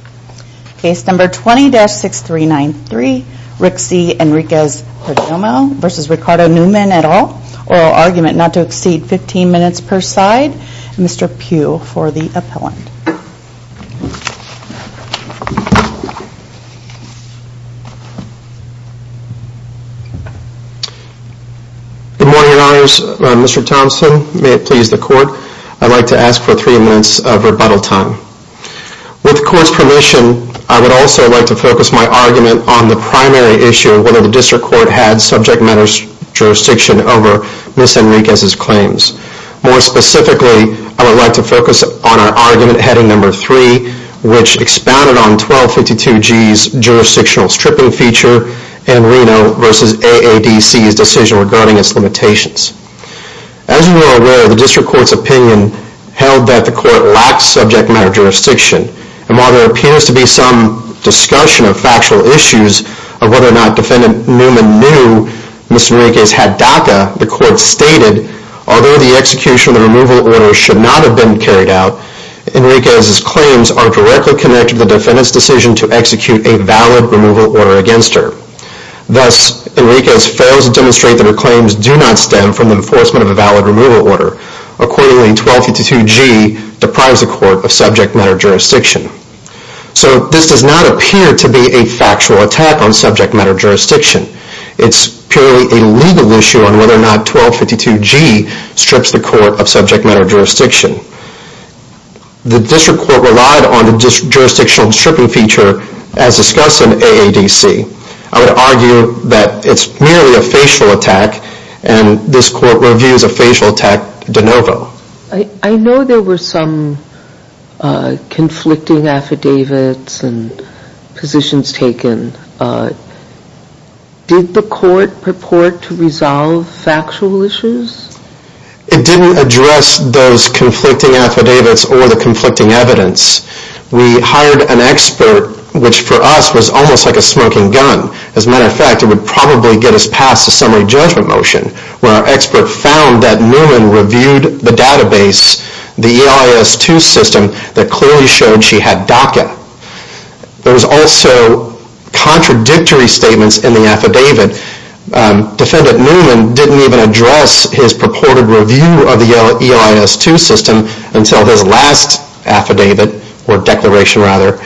Oral argument not to exceed 15 minutes per side. Mr. Pugh for the appellant. Good morning and honors. Mr. Thompson. May it please the court. I'd like to ask for three minutes of rebuttal time. With the court's permission, I'd like to ask for Mr. Pugh to come forward. With the court's permission, I would also like to focus my argument on the primary issue of whether the district court had subject matter jurisdiction over Ms. Enriquez's claims. More specifically, I would like to focus on our argument heading number three, which expounded on 1252G's jurisdictional stripping feature and Reno v. AADC's decision regarding its limitations. As you are aware, the district court's opinion held that the court lacked subject matter jurisdiction. And while there appears to be some discussion of factual issues of whether or not defendant Newman knew Ms. Enriquez had DACA, the court stated, although the execution of the removal order should not have been carried out, Enriquez's claims are directly connected to the defendant's decision to execute a valid removal order against her. Thus, Enriquez fails to demonstrate that her claims do not stem from the enforcement of a valid removal order. Accordingly, 1252G deprives the court of subject matter jurisdiction. So this does not appear to be a factual attack on subject matter jurisdiction. It's purely a legal issue on whether or not 1252G strips the court of subject matter jurisdiction. The district court relied on the jurisdictional stripping feature as discussed in AADC. I would argue that it's merely a facial attack, and this court reviews a facial attack de novo. I know there were some conflicting affidavits and positions taken. Did the court purport to resolve factual issues? It didn't address those conflicting affidavits or the conflicting evidence. We hired an expert, which for us was almost like a smoking gun. As a matter of fact, it would probably get us past a summary judgment motion, where our expert found that Newman reviewed the database, the EIS-2 system, that clearly showed she had DACA. There was also contradictory statements in the affidavit. Defendant Newman didn't even address his purported review of the EIS-2 system until his last affidavit, or declaration rather,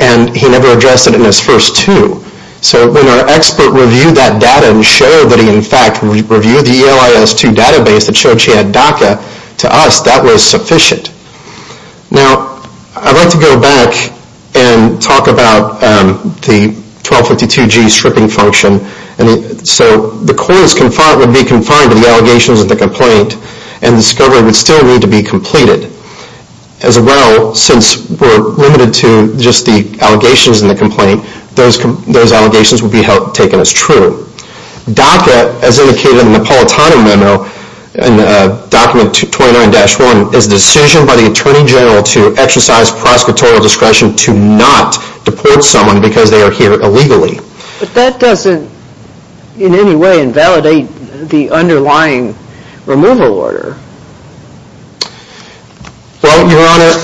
and he never addressed it in his first two. So when our expert reviewed that data and showed that he, in fact, reviewed the EIS-2 database that showed she had DACA, to us, that was sufficient. Now, I'd like to go back and talk about the 1252G stripping function. So the court would be confined to the allegations of the complaint, and the discovery would still need to be completed. As well, since we're limited to just the allegations in the complaint, those allegations would be taken as true. DACA, as indicated in the Politano memo, in document 29-1, is a decision by the Attorney General to exercise prosecutorial discretion to not deport someone because they are here illegally. But that doesn't, in any way, invalidate the underlying removal order. Well, Your Honor,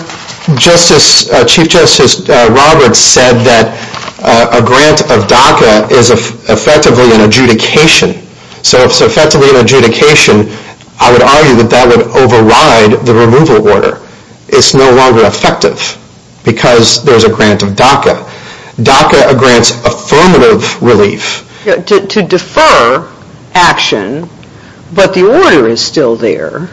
Chief Justice Roberts said that a grant of DACA is effectively an adjudication. So if it's effectively an adjudication, I would argue that that would override the removal order. It's no longer effective because there's a grant of DACA. DACA grants affirmative relief. To defer action, but the order is still there.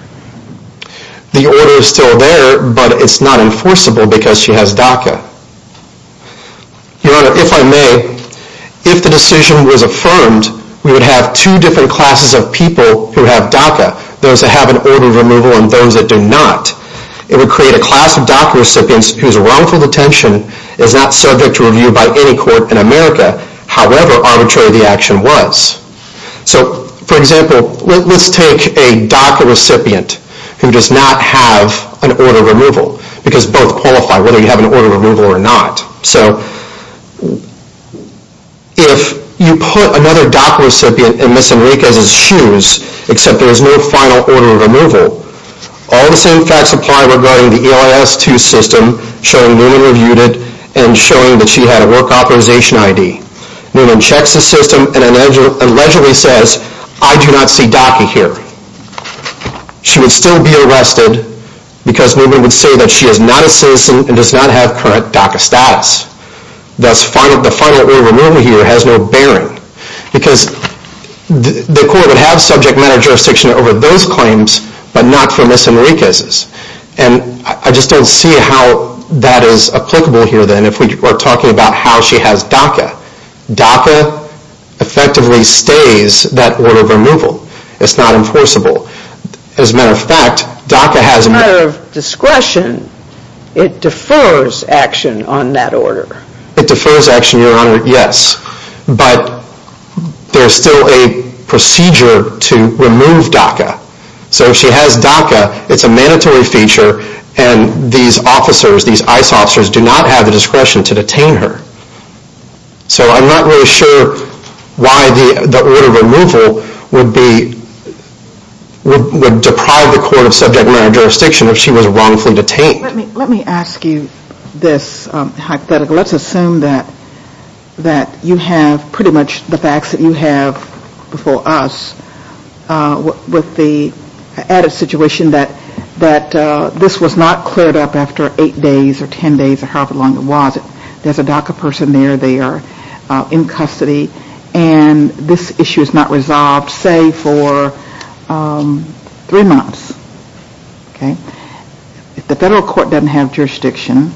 The order is still there, but it's not enforceable because she has DACA. Your Honor, if I may, if the decision was affirmed, we would have two different classes of people who have DACA. Those that have an order of removal and those that do not. It would create a class of DACA recipients whose wrongful detention is not subject to review by any court in America. However arbitrary the action was. So, for example, let's take a DACA recipient who does not have an order of removal. Because both qualify, whether you have an order of removal or not. So, if you put another DACA recipient in Ms. Enriquez's shoes, except there is no final order of removal, all the same facts apply regarding the EIS-2 system showing Newman reviewed it and showing that she had a work authorization ID. Newman checks the system and allegedly says, I do not see DACA here. She would still be arrested because Newman would say that she is not a citizen and does not have current DACA status. Thus, the final order of removal here has no bearing. Because the court would have subject matter jurisdiction over those claims, but not for Ms. Enriquez's. And I just don't see how that is applicable here then if we are talking about how she has DACA. DACA effectively stays that order of removal. It's not enforceable. As a matter of fact, DACA has... As a matter of discretion, it defers action on that order. It defers action, your honor, yes. But, there is still a procedure to remove DACA. So, if she has DACA, it's a mandatory feature and these officers, these EIS officers do not have the discretion to detain her. So, I'm not really sure why the order of removal would deprive the court of subject matter jurisdiction if she was wrongfully detained. Let me ask you this hypothetical. Let's assume that you have pretty much the facts that you have before us. With the added situation that this was not cleared up after 8 days or 10 days or however long it was. There is a DACA person there. They are in custody. And this issue is not resolved, say, for 3 months. If the federal court doesn't have jurisdiction,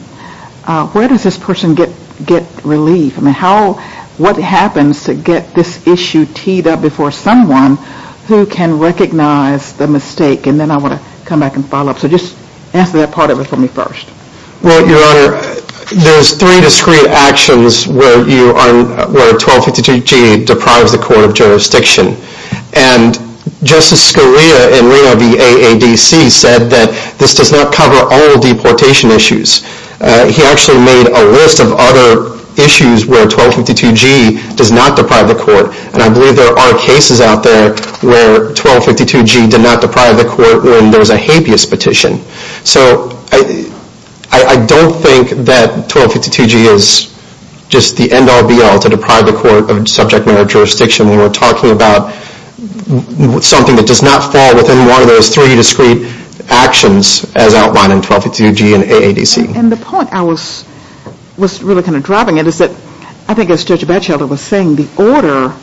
where does this person get relief? What happens to get this issue teed up before someone who can recognize the mistake? And then I want to come back and follow up. So, just answer that part of it for me first. Well, your honor, there are 3 discrete actions where 1252G deprives the court of jurisdiction. And Justice Scalia in Reno v. AADC said that this does not cover all deportation issues. He actually made a list of other issues where 1252G does not deprive the court. And I believe there are cases out there where 1252G did not deprive the court when there was a habeas petition. So, I don't think that 1252G is just the end all be all to deprive the court of subject matter jurisdiction. We are talking about something that does not fall within one of those 3 discrete actions as outlined in 1252G and AADC. And the point I was really kind of driving at is that, I think as Judge Batchelder was saying, the order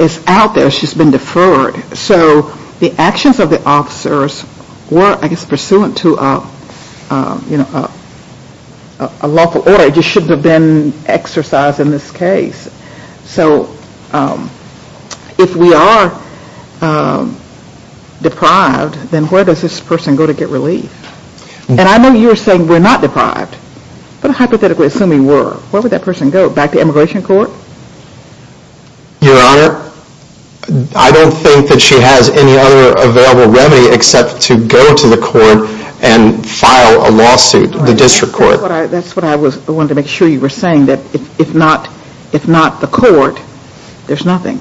is out there. It's just been deferred. So, the actions of the officers were, I guess, pursuant to a lawful order. They just shouldn't have been exercised in this case. So, if we are deprived, then where does this person go to get relief? And I know you are saying we are not deprived, but hypothetically assuming we were, where would that person go? Back to immigration court? Your honor, I don't think that she has any other available remedy except to go to the court and file a lawsuit, the district court. That's what I wanted to make sure you were saying, that if not the court, there's nothing.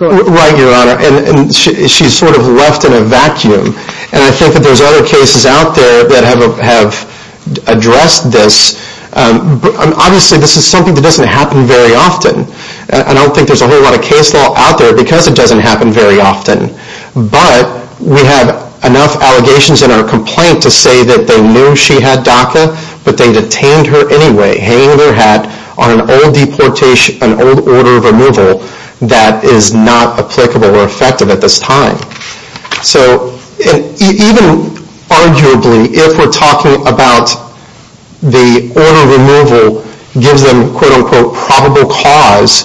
Right, your honor. And she's sort of left in a vacuum. And I think that there's other cases out there that have addressed this. Obviously, this is something that doesn't happen very often. And I don't think there's a whole lot of case law out there because it doesn't happen very often. But, we have enough allegations in our complaint to say that they knew she had DACA, but they detained her anyway, hanging her hat on an old order of removal that is not applicable or effective at this time. So, even arguably, if we're talking about the order of removal gives them, quote unquote, probable cause,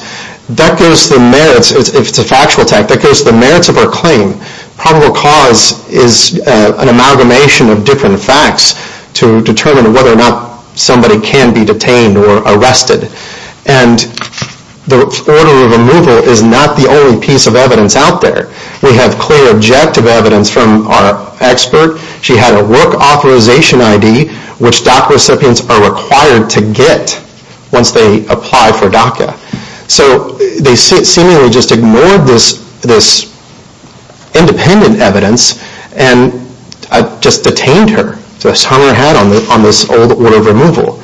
that goes to the merits, if it's a factual attack, that goes to the merits of her claim. Probable cause is an amalgamation of different facts to determine whether or not somebody can be detained or arrested. And the order of removal is not the only piece of evidence out there. We have clear objective evidence from our expert. She had a work authorization ID, which DACA recipients are required to get once they apply for DACA. So, they seemingly just ignored this independent evidence and just detained her, hung her hat on this old order of removal.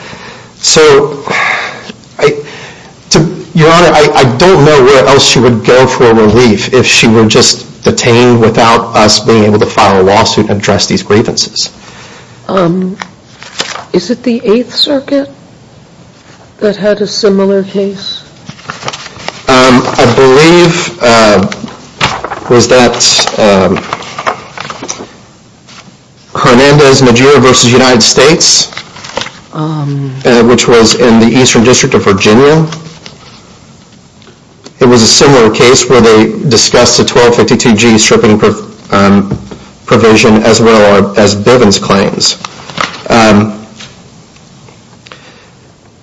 So, your honor, I don't know where else she would go for relief if she were just detained without us being able to file a lawsuit and address these grievances. Is it the Eighth Circuit that had a similar case? I believe it was that Hernandez-Najira v. United States, which was in the Eastern District of Virginia. It was a similar case where they discussed the 1252G stripping provision as well as Bivens' claims.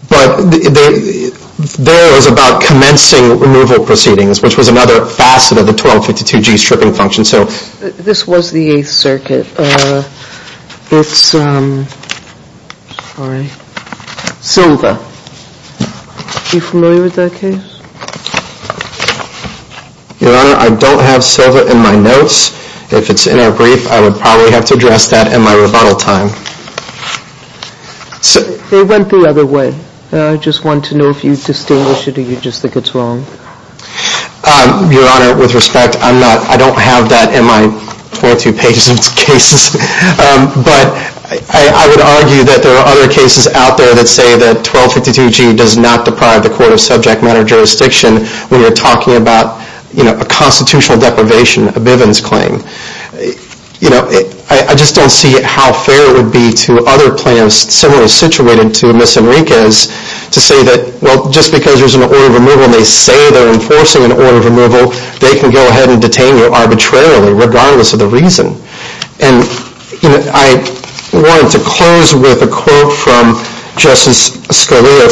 But there it was about commencing removal proceedings, which was another facet of the 1252G stripping function. This was the Eighth Circuit. Silva, are you familiar with that case? Your honor, I don't have Silva in my notes. If it's in our brief, I would probably have to address that in my rebuttal time. They went the other way. I just want to know if you distinguish it or you just think it's wrong. Your honor, with respect, I don't have that in my 22 pages of cases. But I would argue that there are other cases out there that say that 1252G does not deprive the Court of Subject Matter Jurisdiction when you're talking about a constitutional deprivation, a Bivens' claim. I just don't see how fair it would be to other plaintiffs similarly situated to Ms. Enriquez to say that, well, just because there's an order of removal and they say they're enforcing an order of removal, they can go ahead and detain you arbitrarily regardless of the reason. And I wanted to close with a quote from Justice Scalia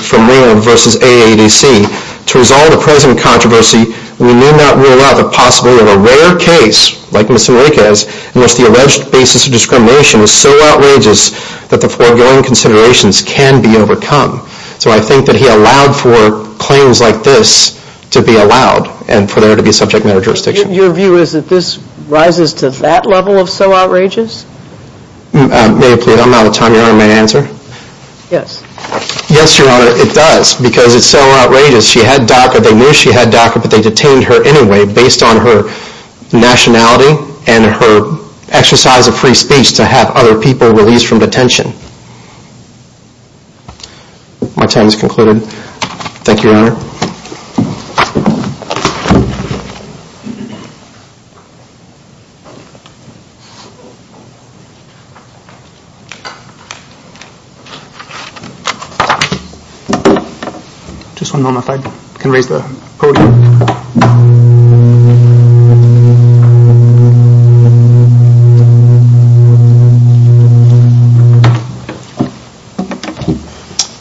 from Maryland v. AADC. To resolve the present controversy, we need not rule out the possibility of a rare case like Ms. Enriquez in which the alleged basis of discrimination is so outrageous that the foregoing considerations can be overcome. So I think that he allowed for claims like this to be allowed and for there to be Subject Matter Jurisdiction. Your view is that this rises to that level of so outrageous? May I plead? I'm out of time. Your honor, may I answer? Yes. Yes, your honor, it does because it's so outrageous. They knew she had DACA but they detained her anyway based on her nationality and her exercise of free speech to have other people released from detention. My time has concluded. Thank you, your honor. Just one moment if I can raise the podium.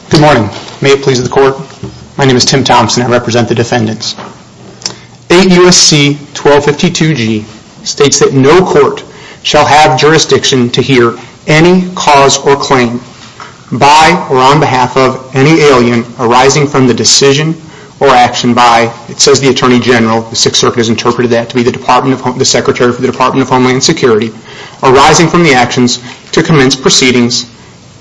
Good morning. May it please the court? My name is Tim Thompson. I represent the defendants. 8 U.S.C. 1252G states that no court shall have jurisdiction to hear any cause or claim by or on behalf of any alien arising from the decision or action by, it says the Attorney General, the 6th Circuit has interpreted that to be the Secretary for the Department of Homeland Security, arising from the actions to commence proceedings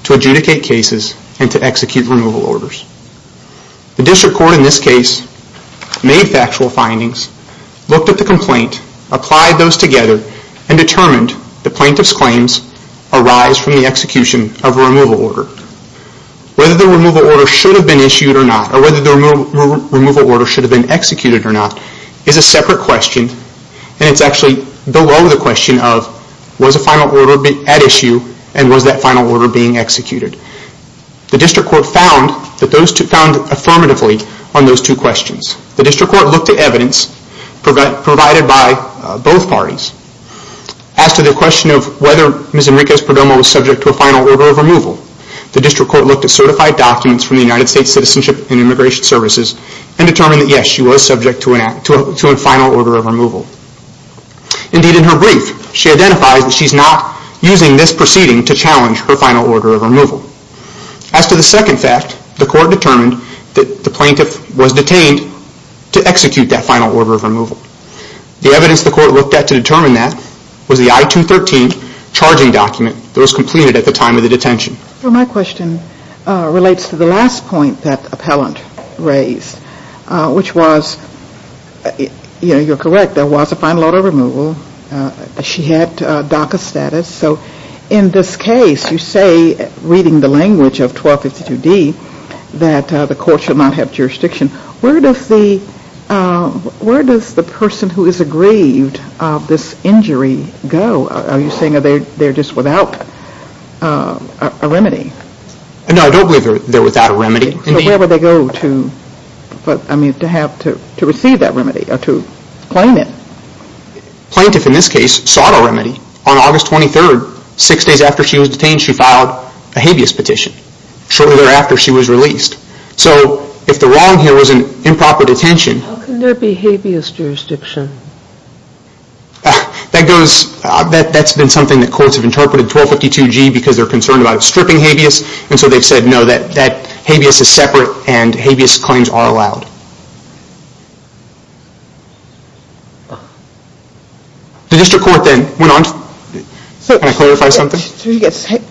to adjudicate cases and to execute removal orders. The District Court in this case made factual findings, looked at the complaint, applied those together and determined the plaintiff's claims arise from the execution of a removal order. Whether the removal order should have been issued or not or whether the removal order should have been executed or not is a separate question and it's actually below the question of was a final order at issue and was that final order being executed. The District Court found affirmatively on those two questions. The District Court looked at evidence provided by both parties. As to the question of whether Ms. Enriquez-Perdomo was subject to a final order of removal, the District Court looked at certified documents from the United States Citizenship and Immigration Services and determined that yes, she was subject to a final order of removal. Indeed in her brief, she identifies that she's not using this proceeding to challenge her final order of removal. As to the second fact, the court determined that the plaintiff was detained to execute that final order of removal. The evidence the court looked at to determine that was the I-213 charging document that was completed at the time of the detention. My question relates to the last point that the appellant raised, which was you're correct, there was a final order of removal. She had DACA status. So in this case, you say, reading the language of 1252D, that the court should not have jurisdiction. Where does the person who is aggrieved of this injury go? Are you saying they're just without a remedy? No, I don't believe they're without a remedy. So where would they go to receive that remedy or to claim it? Plaintiff in this case sought a remedy. On August 23rd, six days after she was detained, she filed a habeas petition. Shortly thereafter, she was released. So if the wrong here was an improper detention... How can there be habeas jurisdiction? That goes, that's been something that courts have interpreted 1252G because they're concerned about stripping habeas. And so they've said, no, that habeas is separate and habeas claims are allowed. The district court then went on to... Can I clarify something?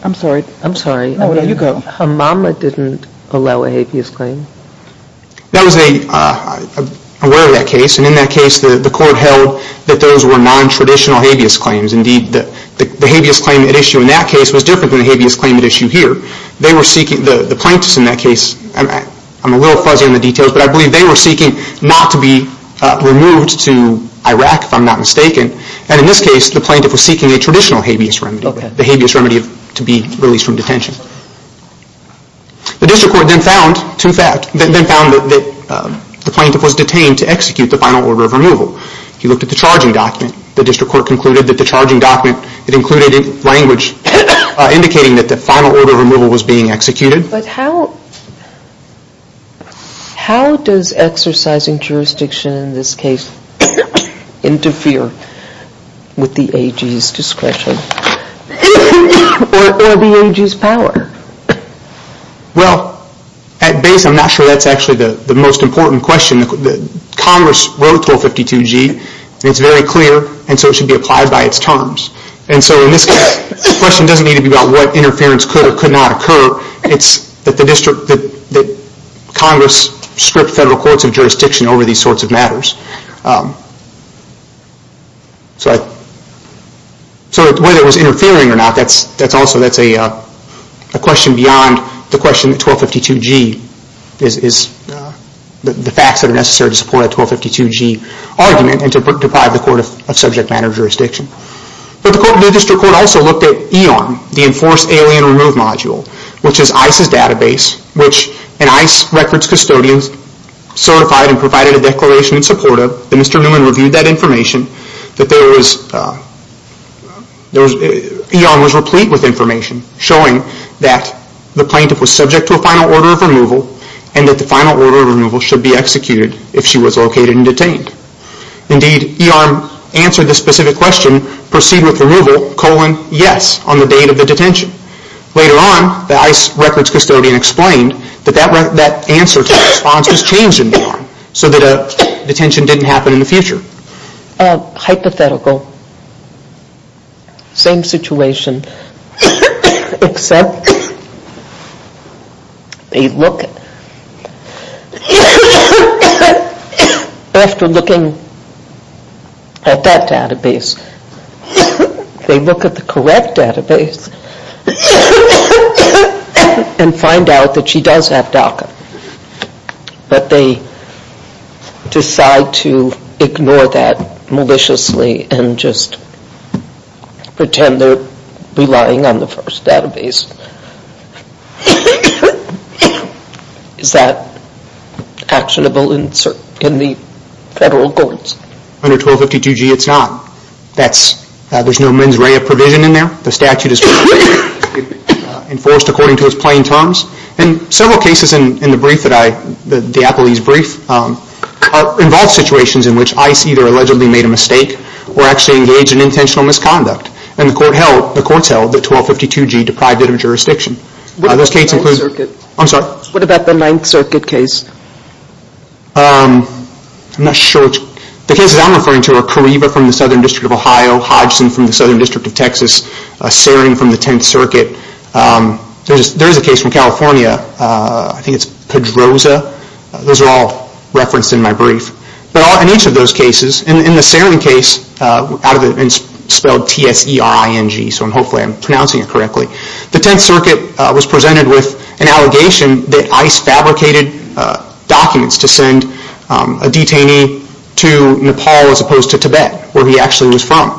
I'm sorry. I'm sorry. Hamama didn't allow a habeas claim. I'm aware of that case. And in that case, the court held that those were nontraditional habeas claims. Indeed, the habeas claim at issue in that case was different than the habeas claim at issue here. The plaintiffs in that case, I'm a little fuzzy on the details, but I believe they were seeking not to be removed to Iraq, if I'm not mistaken. And in this case, the plaintiff was seeking a traditional habeas remedy, the habeas remedy to be released from detention. The district court then found that the plaintiff was detained to execute the final order of removal. He looked at the charging document. The district court concluded that the charging document included language indicating that the final order of removal was being executed. But how does exercising jurisdiction in this case interfere with the AG's discretion or the AG's power? Well, at base, I'm not sure that's actually the most important question. Congress wrote 1252G, and it's very clear, and so it should be applied by its terms. And so in this case, the question doesn't need to be about what interference could or could not occur. It's that Congress stripped federal courts of jurisdiction over these sorts of matters. So whether it was interfering or not, that's also a question beyond the question that 1252G is, the facts that are necessary to support a 1252G argument and to deprive the court of subject matter jurisdiction. But the district court also looked at EON, the Enforced Alien Remove Module, which is ICE's database, which an ICE records custodian certified and provided a declaration in support of. And Mr. Newman reviewed that information that there was, EON was replete with information showing that the plaintiff was subject to a final order of removal and that the final order of removal should be executed if she was located and detained. Indeed, EON answered the specific question, proceed with removal, colon, yes, on the date of the detention. Later on, the ICE records custodian explained that that answer to the response was changed in EON so that a detention didn't happen in the future. Hypothetical, same situation, except they look after looking at that database, they look at the correct database and find out that she does have DACA. But they decide to ignore that maliciously and just pretend they're relying on the first database. Is that actionable in the federal courts? Under 1252G, it's not. There's no mens rea provision in there. The statute is enforced according to its plain terms. And several cases in the brief that I, the Apolese brief, involve situations in which ICE either allegedly made a mistake or actually engaged in intentional misconduct. And the court held, the courts held, that 1252G deprived it of jurisdiction. What about the 9th Circuit case? I'm not sure, the cases I'm referring to are Cariva from the Southern District of Ohio, Hodgson from the Southern District of Texas, Saring from the 10th Circuit. There is a case from California, I think it's Pedroza. Those are all referenced in my brief. But in each of those cases, in the Saring case, spelled T-S-E-R-I-N-G, so hopefully I'm pronouncing it correctly, the 10th Circuit was presented with an allegation that ICE fabricated documents to send a detainee to Nepal as opposed to Tibet, where he actually was from.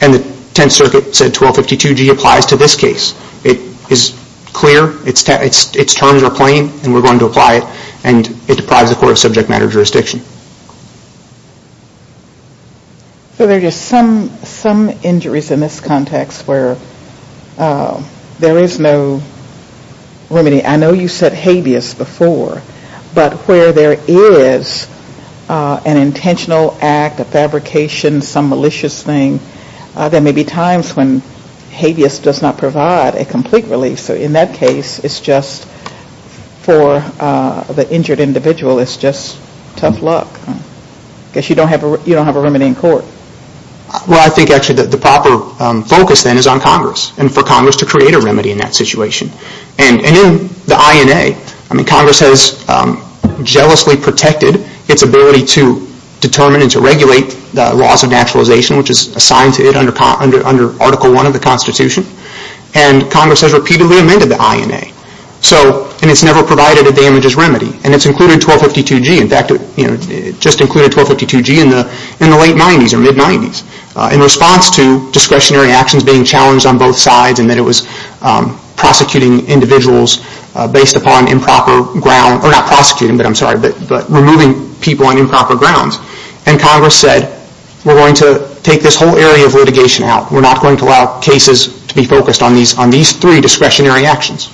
And the 10th Circuit said 1252G applies to this case. It is clear, its terms are plain, and we're going to apply it, and it deprives the court of subject matter jurisdiction. So there are just some injuries in this context where there is no remedy. I know you said habeas before, but where there is an intentional act, a fabrication, some malicious thing, there may be times when habeas does not provide a complete relief. So in that case, it's just for the injured individual, it's just tough luck. I guess you don't have a remedy in court. Well, I think actually the proper focus then is on Congress and for Congress to create a remedy in that situation. And in the INA, Congress has jealously protected its ability to determine and to regulate the laws of naturalization, which is assigned to it under Article I of the Constitution. And Congress has repeatedly amended the INA. And it's never provided a damages remedy. And it's included 1252G. In fact, it just included 1252G in the late 90s or mid-90s in response to discretionary actions being challenged on both sides and that it was prosecuting individuals based upon improper grounds, or not prosecuting, but I'm sorry, but removing people on improper grounds. And Congress said, we're going to take this whole area of litigation out. We're not going to allow cases to be focused on these three discretionary actions.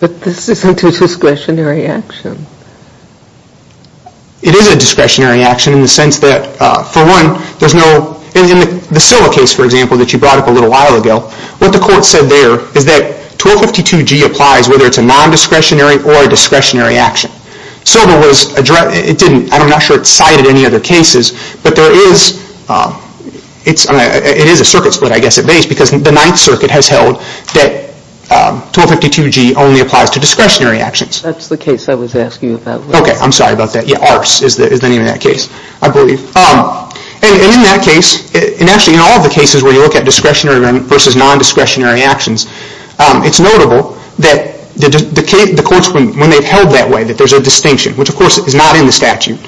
But this isn't a discretionary action. It is a discretionary action in the sense that, for one, there's no, in the Sila case, for example, that you brought up a little while ago, what the court said there is that 1252G applies whether it's a non-discretionary or a discretionary action. So there was, it didn't, I'm not sure it's cited in any other cases, but there is, it is a circuit split, I guess, at base, because the Ninth Circuit has held that 1252G only applies to discretionary actions. That's the case I was asking about. Okay, I'm sorry about that. Yeah, Arce is the name of that case, I believe. And in that case, and actually in all of the cases where you look at discretionary versus non-discretionary actions, it's notable that the courts, when they've held that way, that there's a distinction, which of course is not in the statute,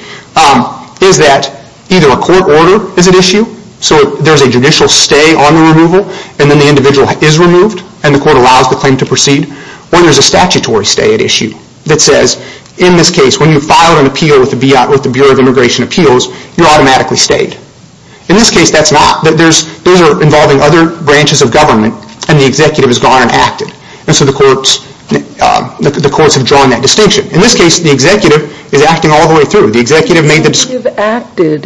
is that either a court order is at issue, so there's a judicial stay on the removal, and then the individual is removed and the court allows the claim to proceed, or there's a statutory stay at issue that says, in this case, when you filed an appeal with the Bureau of Immigration Appeals, you're automatically stayed. In this case, that's not. Those are involving other branches of government and the executive has gone and acted. And so the courts have drawn that distinction. In this case, the executive is acting all the way through. The executive made the distinction. The executive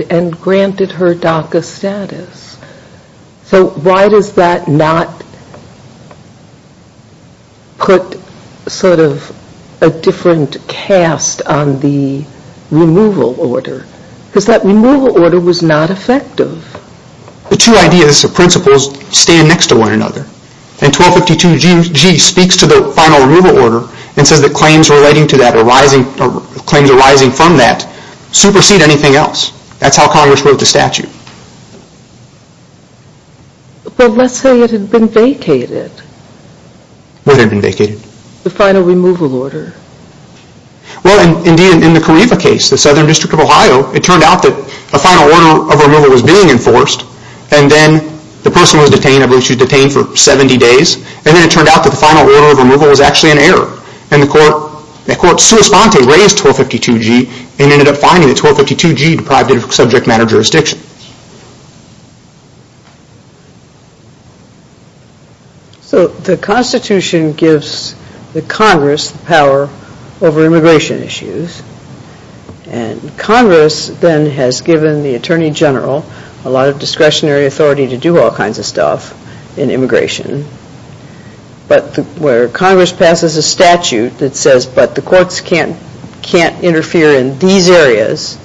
acted and granted her DACA status. So why does that not put sort of a different cast on the removal order? Because that removal order was not effective. The two ideas, the principles, stand next to one another. And 1252G speaks to the final removal order and says that claims arising from that supersede anything else. That's how Congress wrote the statute. But let's say it had been vacated. What had been vacated? The final removal order. So it turned out that a final order of removal was being enforced and then the person was detained. I believe she was detained for 70 days. And then it turned out that the final order of removal was actually an error. And the court, the court sui sponte raised 1252G and ended up finding that 1252G deprived it of subject matter jurisdiction. So the Constitution gives the Congress power over immigration issues. And Congress then has given the Attorney General a lot of discretionary authority to do all kinds of stuff in immigration. But where Congress passes a statute that says, but the courts can't interfere in these areas,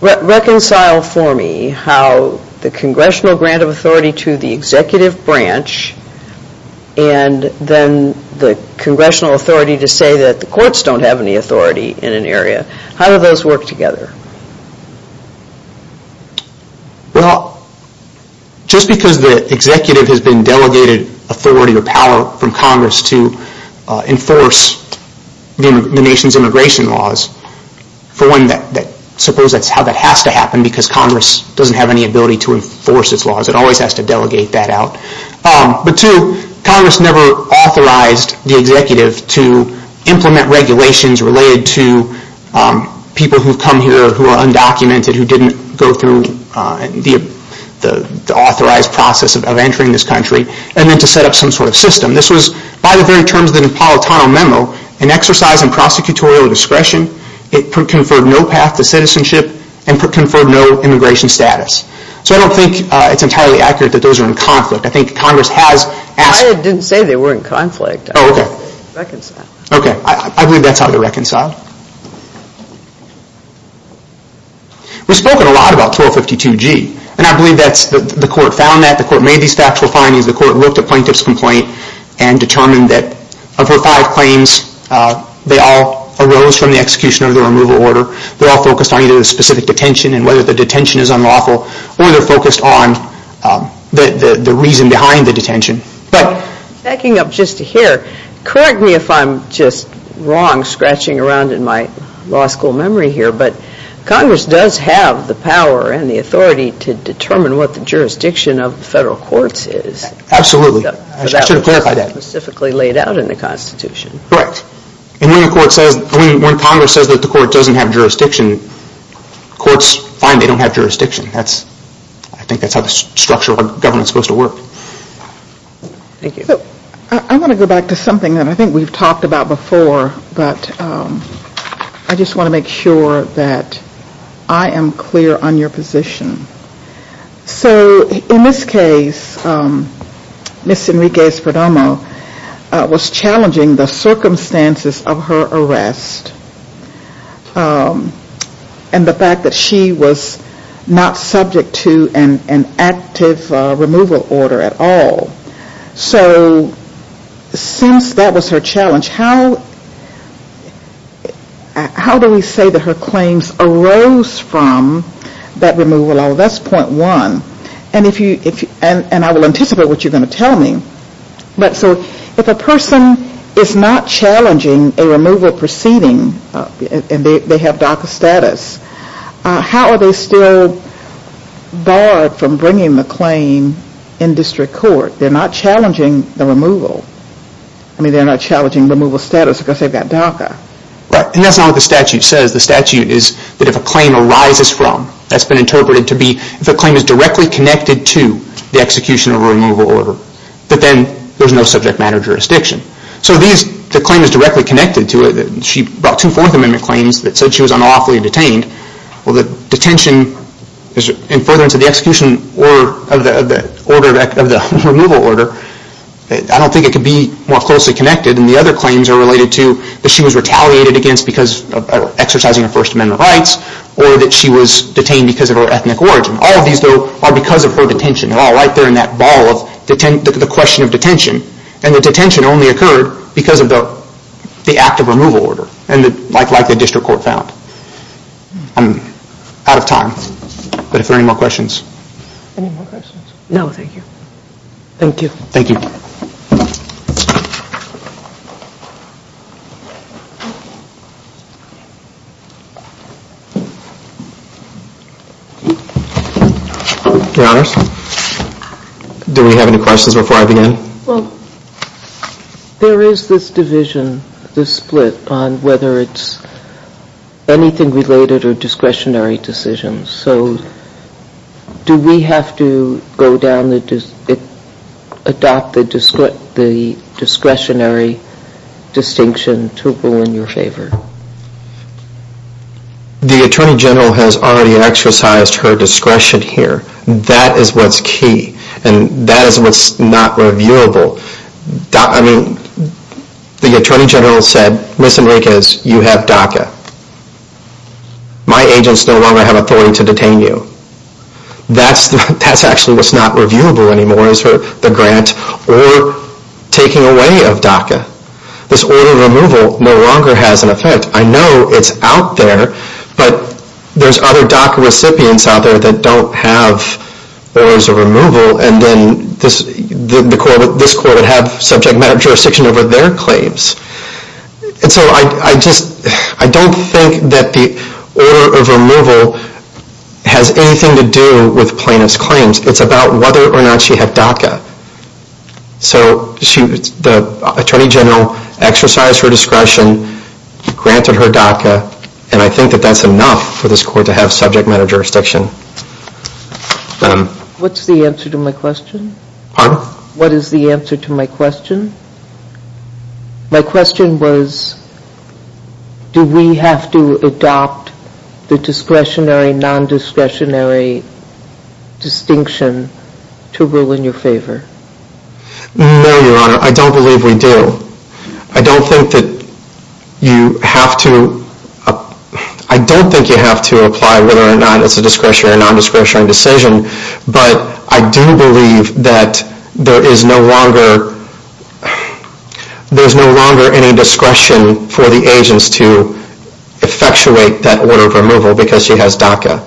reconcile for me how the Congressional grant of authority to the executive branch and then the Congressional authority to say that the courts don't have any authority in an area. How do those work together? Well, just because the executive has been delegated authority or power from Congress to enforce the nation's immigration laws, for one, suppose that's how that has to happen because Congress doesn't have any ability to enforce its laws. It always has to delegate that out. But two, Congress never authorized the executive to implement regulations related to people who have come here who are undocumented who didn't go through the authorized process of entering this country and then to set up some sort of system. This was, by the very terms of the Napolitano memo, an exercise in prosecutorial discretion. It conferred no path to citizenship and conferred no immigration status. So I don't think it's entirely accurate that those are in conflict. I think Congress has asked... I didn't say they were in conflict. Oh, okay. Reconciled. Okay, I believe that's how they're reconciled. We've spoken a lot about 1252G, and I believe the court found that. The court made these factual findings. The court looked at Plaintiff's complaint and determined that of her five claims, they all arose from the execution of the removal order. They're all focused on either the specific detention and whether the detention is unlawful or they're focused on the reason behind the detention. Backing up just here, correct me if I'm just wrong, scratching around in my law school memory here, but Congress does have the power and the authority to determine what the jurisdiction of the federal courts is. Absolutely. I should clarify that. That was specifically laid out in the Constitution. Correct. And when Congress says that the court doesn't have jurisdiction, courts find they don't have jurisdiction. I think that's how the structure of government is supposed to work. Thank you. I want to go back to something that I think we've talked about before, but I just want to make sure that I am clear on your position. So in this case, Ms. Enriquez-Ferdomo was challenging the circumstances of her arrest. And the fact that she was not subject to an active removal order at all. So since that was her challenge, how do we say that her claims arose from that removal order? That's point one. And I will anticipate what you're going to tell me. If a person is not challenging a removal proceeding, and they have DACA status, how are they still barred from bringing the claim in district court? They're not challenging the removal. I mean, they're not challenging removal status because they've got DACA. And that's not what the statute says. The statute is that if a claim arises from, that's been interpreted to be, if a claim is directly connected to the execution of a removal order, that then there's no subject matter jurisdiction. So the claim is directly connected to it. She brought two Fourth Amendment claims that said she was unlawfully detained. Well, the detention, and further into the execution of the removal order, I don't think it could be more closely connected. And the other claims are related to that she was retaliated against because of exercising her First Amendment rights, or that she was detained because of her ethnic origin. All of these, though, are because of her detention. They're all right there in that ball of the question of detention. And the detention only occurred because of the act of removal order, like the district court found. I'm out of time. But if there are any more questions. Any more questions? No, thank you. Thank you. Thank you. Your Honors? Do we have any questions before I begin? Well, there is this division, this split, on whether it's anything related or discretionary decisions. So do we have to go down the, adopt the discretionary decision to split the discretionary distinction to rule in your favor? The Attorney General has already exercised her discretion here. That is what's key, and that is what's not reviewable. I mean, the Attorney General said, Ms. Enriquez, you have DACA. My agents no longer have authority to detain you. That's actually what's not reviewable anymore, is the grant or taking away of DACA. This order of removal no longer has an effect. I know it's out there, but there's other DACA recipients out there that don't have orders of removal, and then this court would have subject matter jurisdiction over their claims. And so I just, I don't think that the order of removal has anything to do with plaintiff's claims. It's about whether or not she had DACA. So the Attorney General exercised her discretion, granted her DACA, and I think that that's enough for this court to have subject matter jurisdiction. What's the answer to my question? Pardon? What is the answer to my question? My question was, do we have to adopt the discretionary, non-discretionary distinction to rule in your favor? No, Your Honor, I don't believe we do. I don't think that you have to apply whether or not it's a discretionary or non-discretionary decision, but I do believe that there is no longer any discretion for the agents to effectuate that order of removal because she has DACA.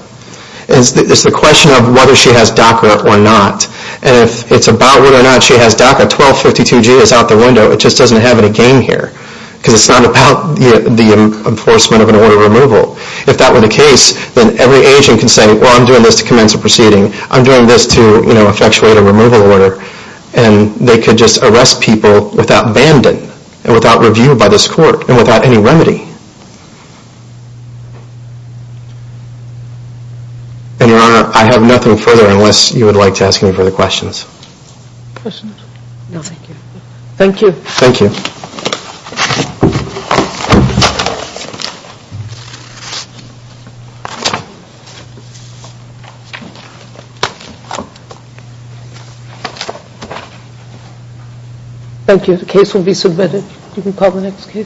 It's the question of whether she has DACA or not, and if it's about whether or not she has DACA, 1252G is out the window. It just doesn't have any game here, because it's not about the enforcement of an order of removal. If that were the case, then every agent can say, well, I'm doing this to commence a proceeding. I'm doing this to effectuate a removal order, and they could just arrest people without banding and without review by this court and without any remedy. And, Your Honor, I have nothing further unless you would like to ask me further questions. Questions? No, thank you. Thank you. Thank you. Thank you.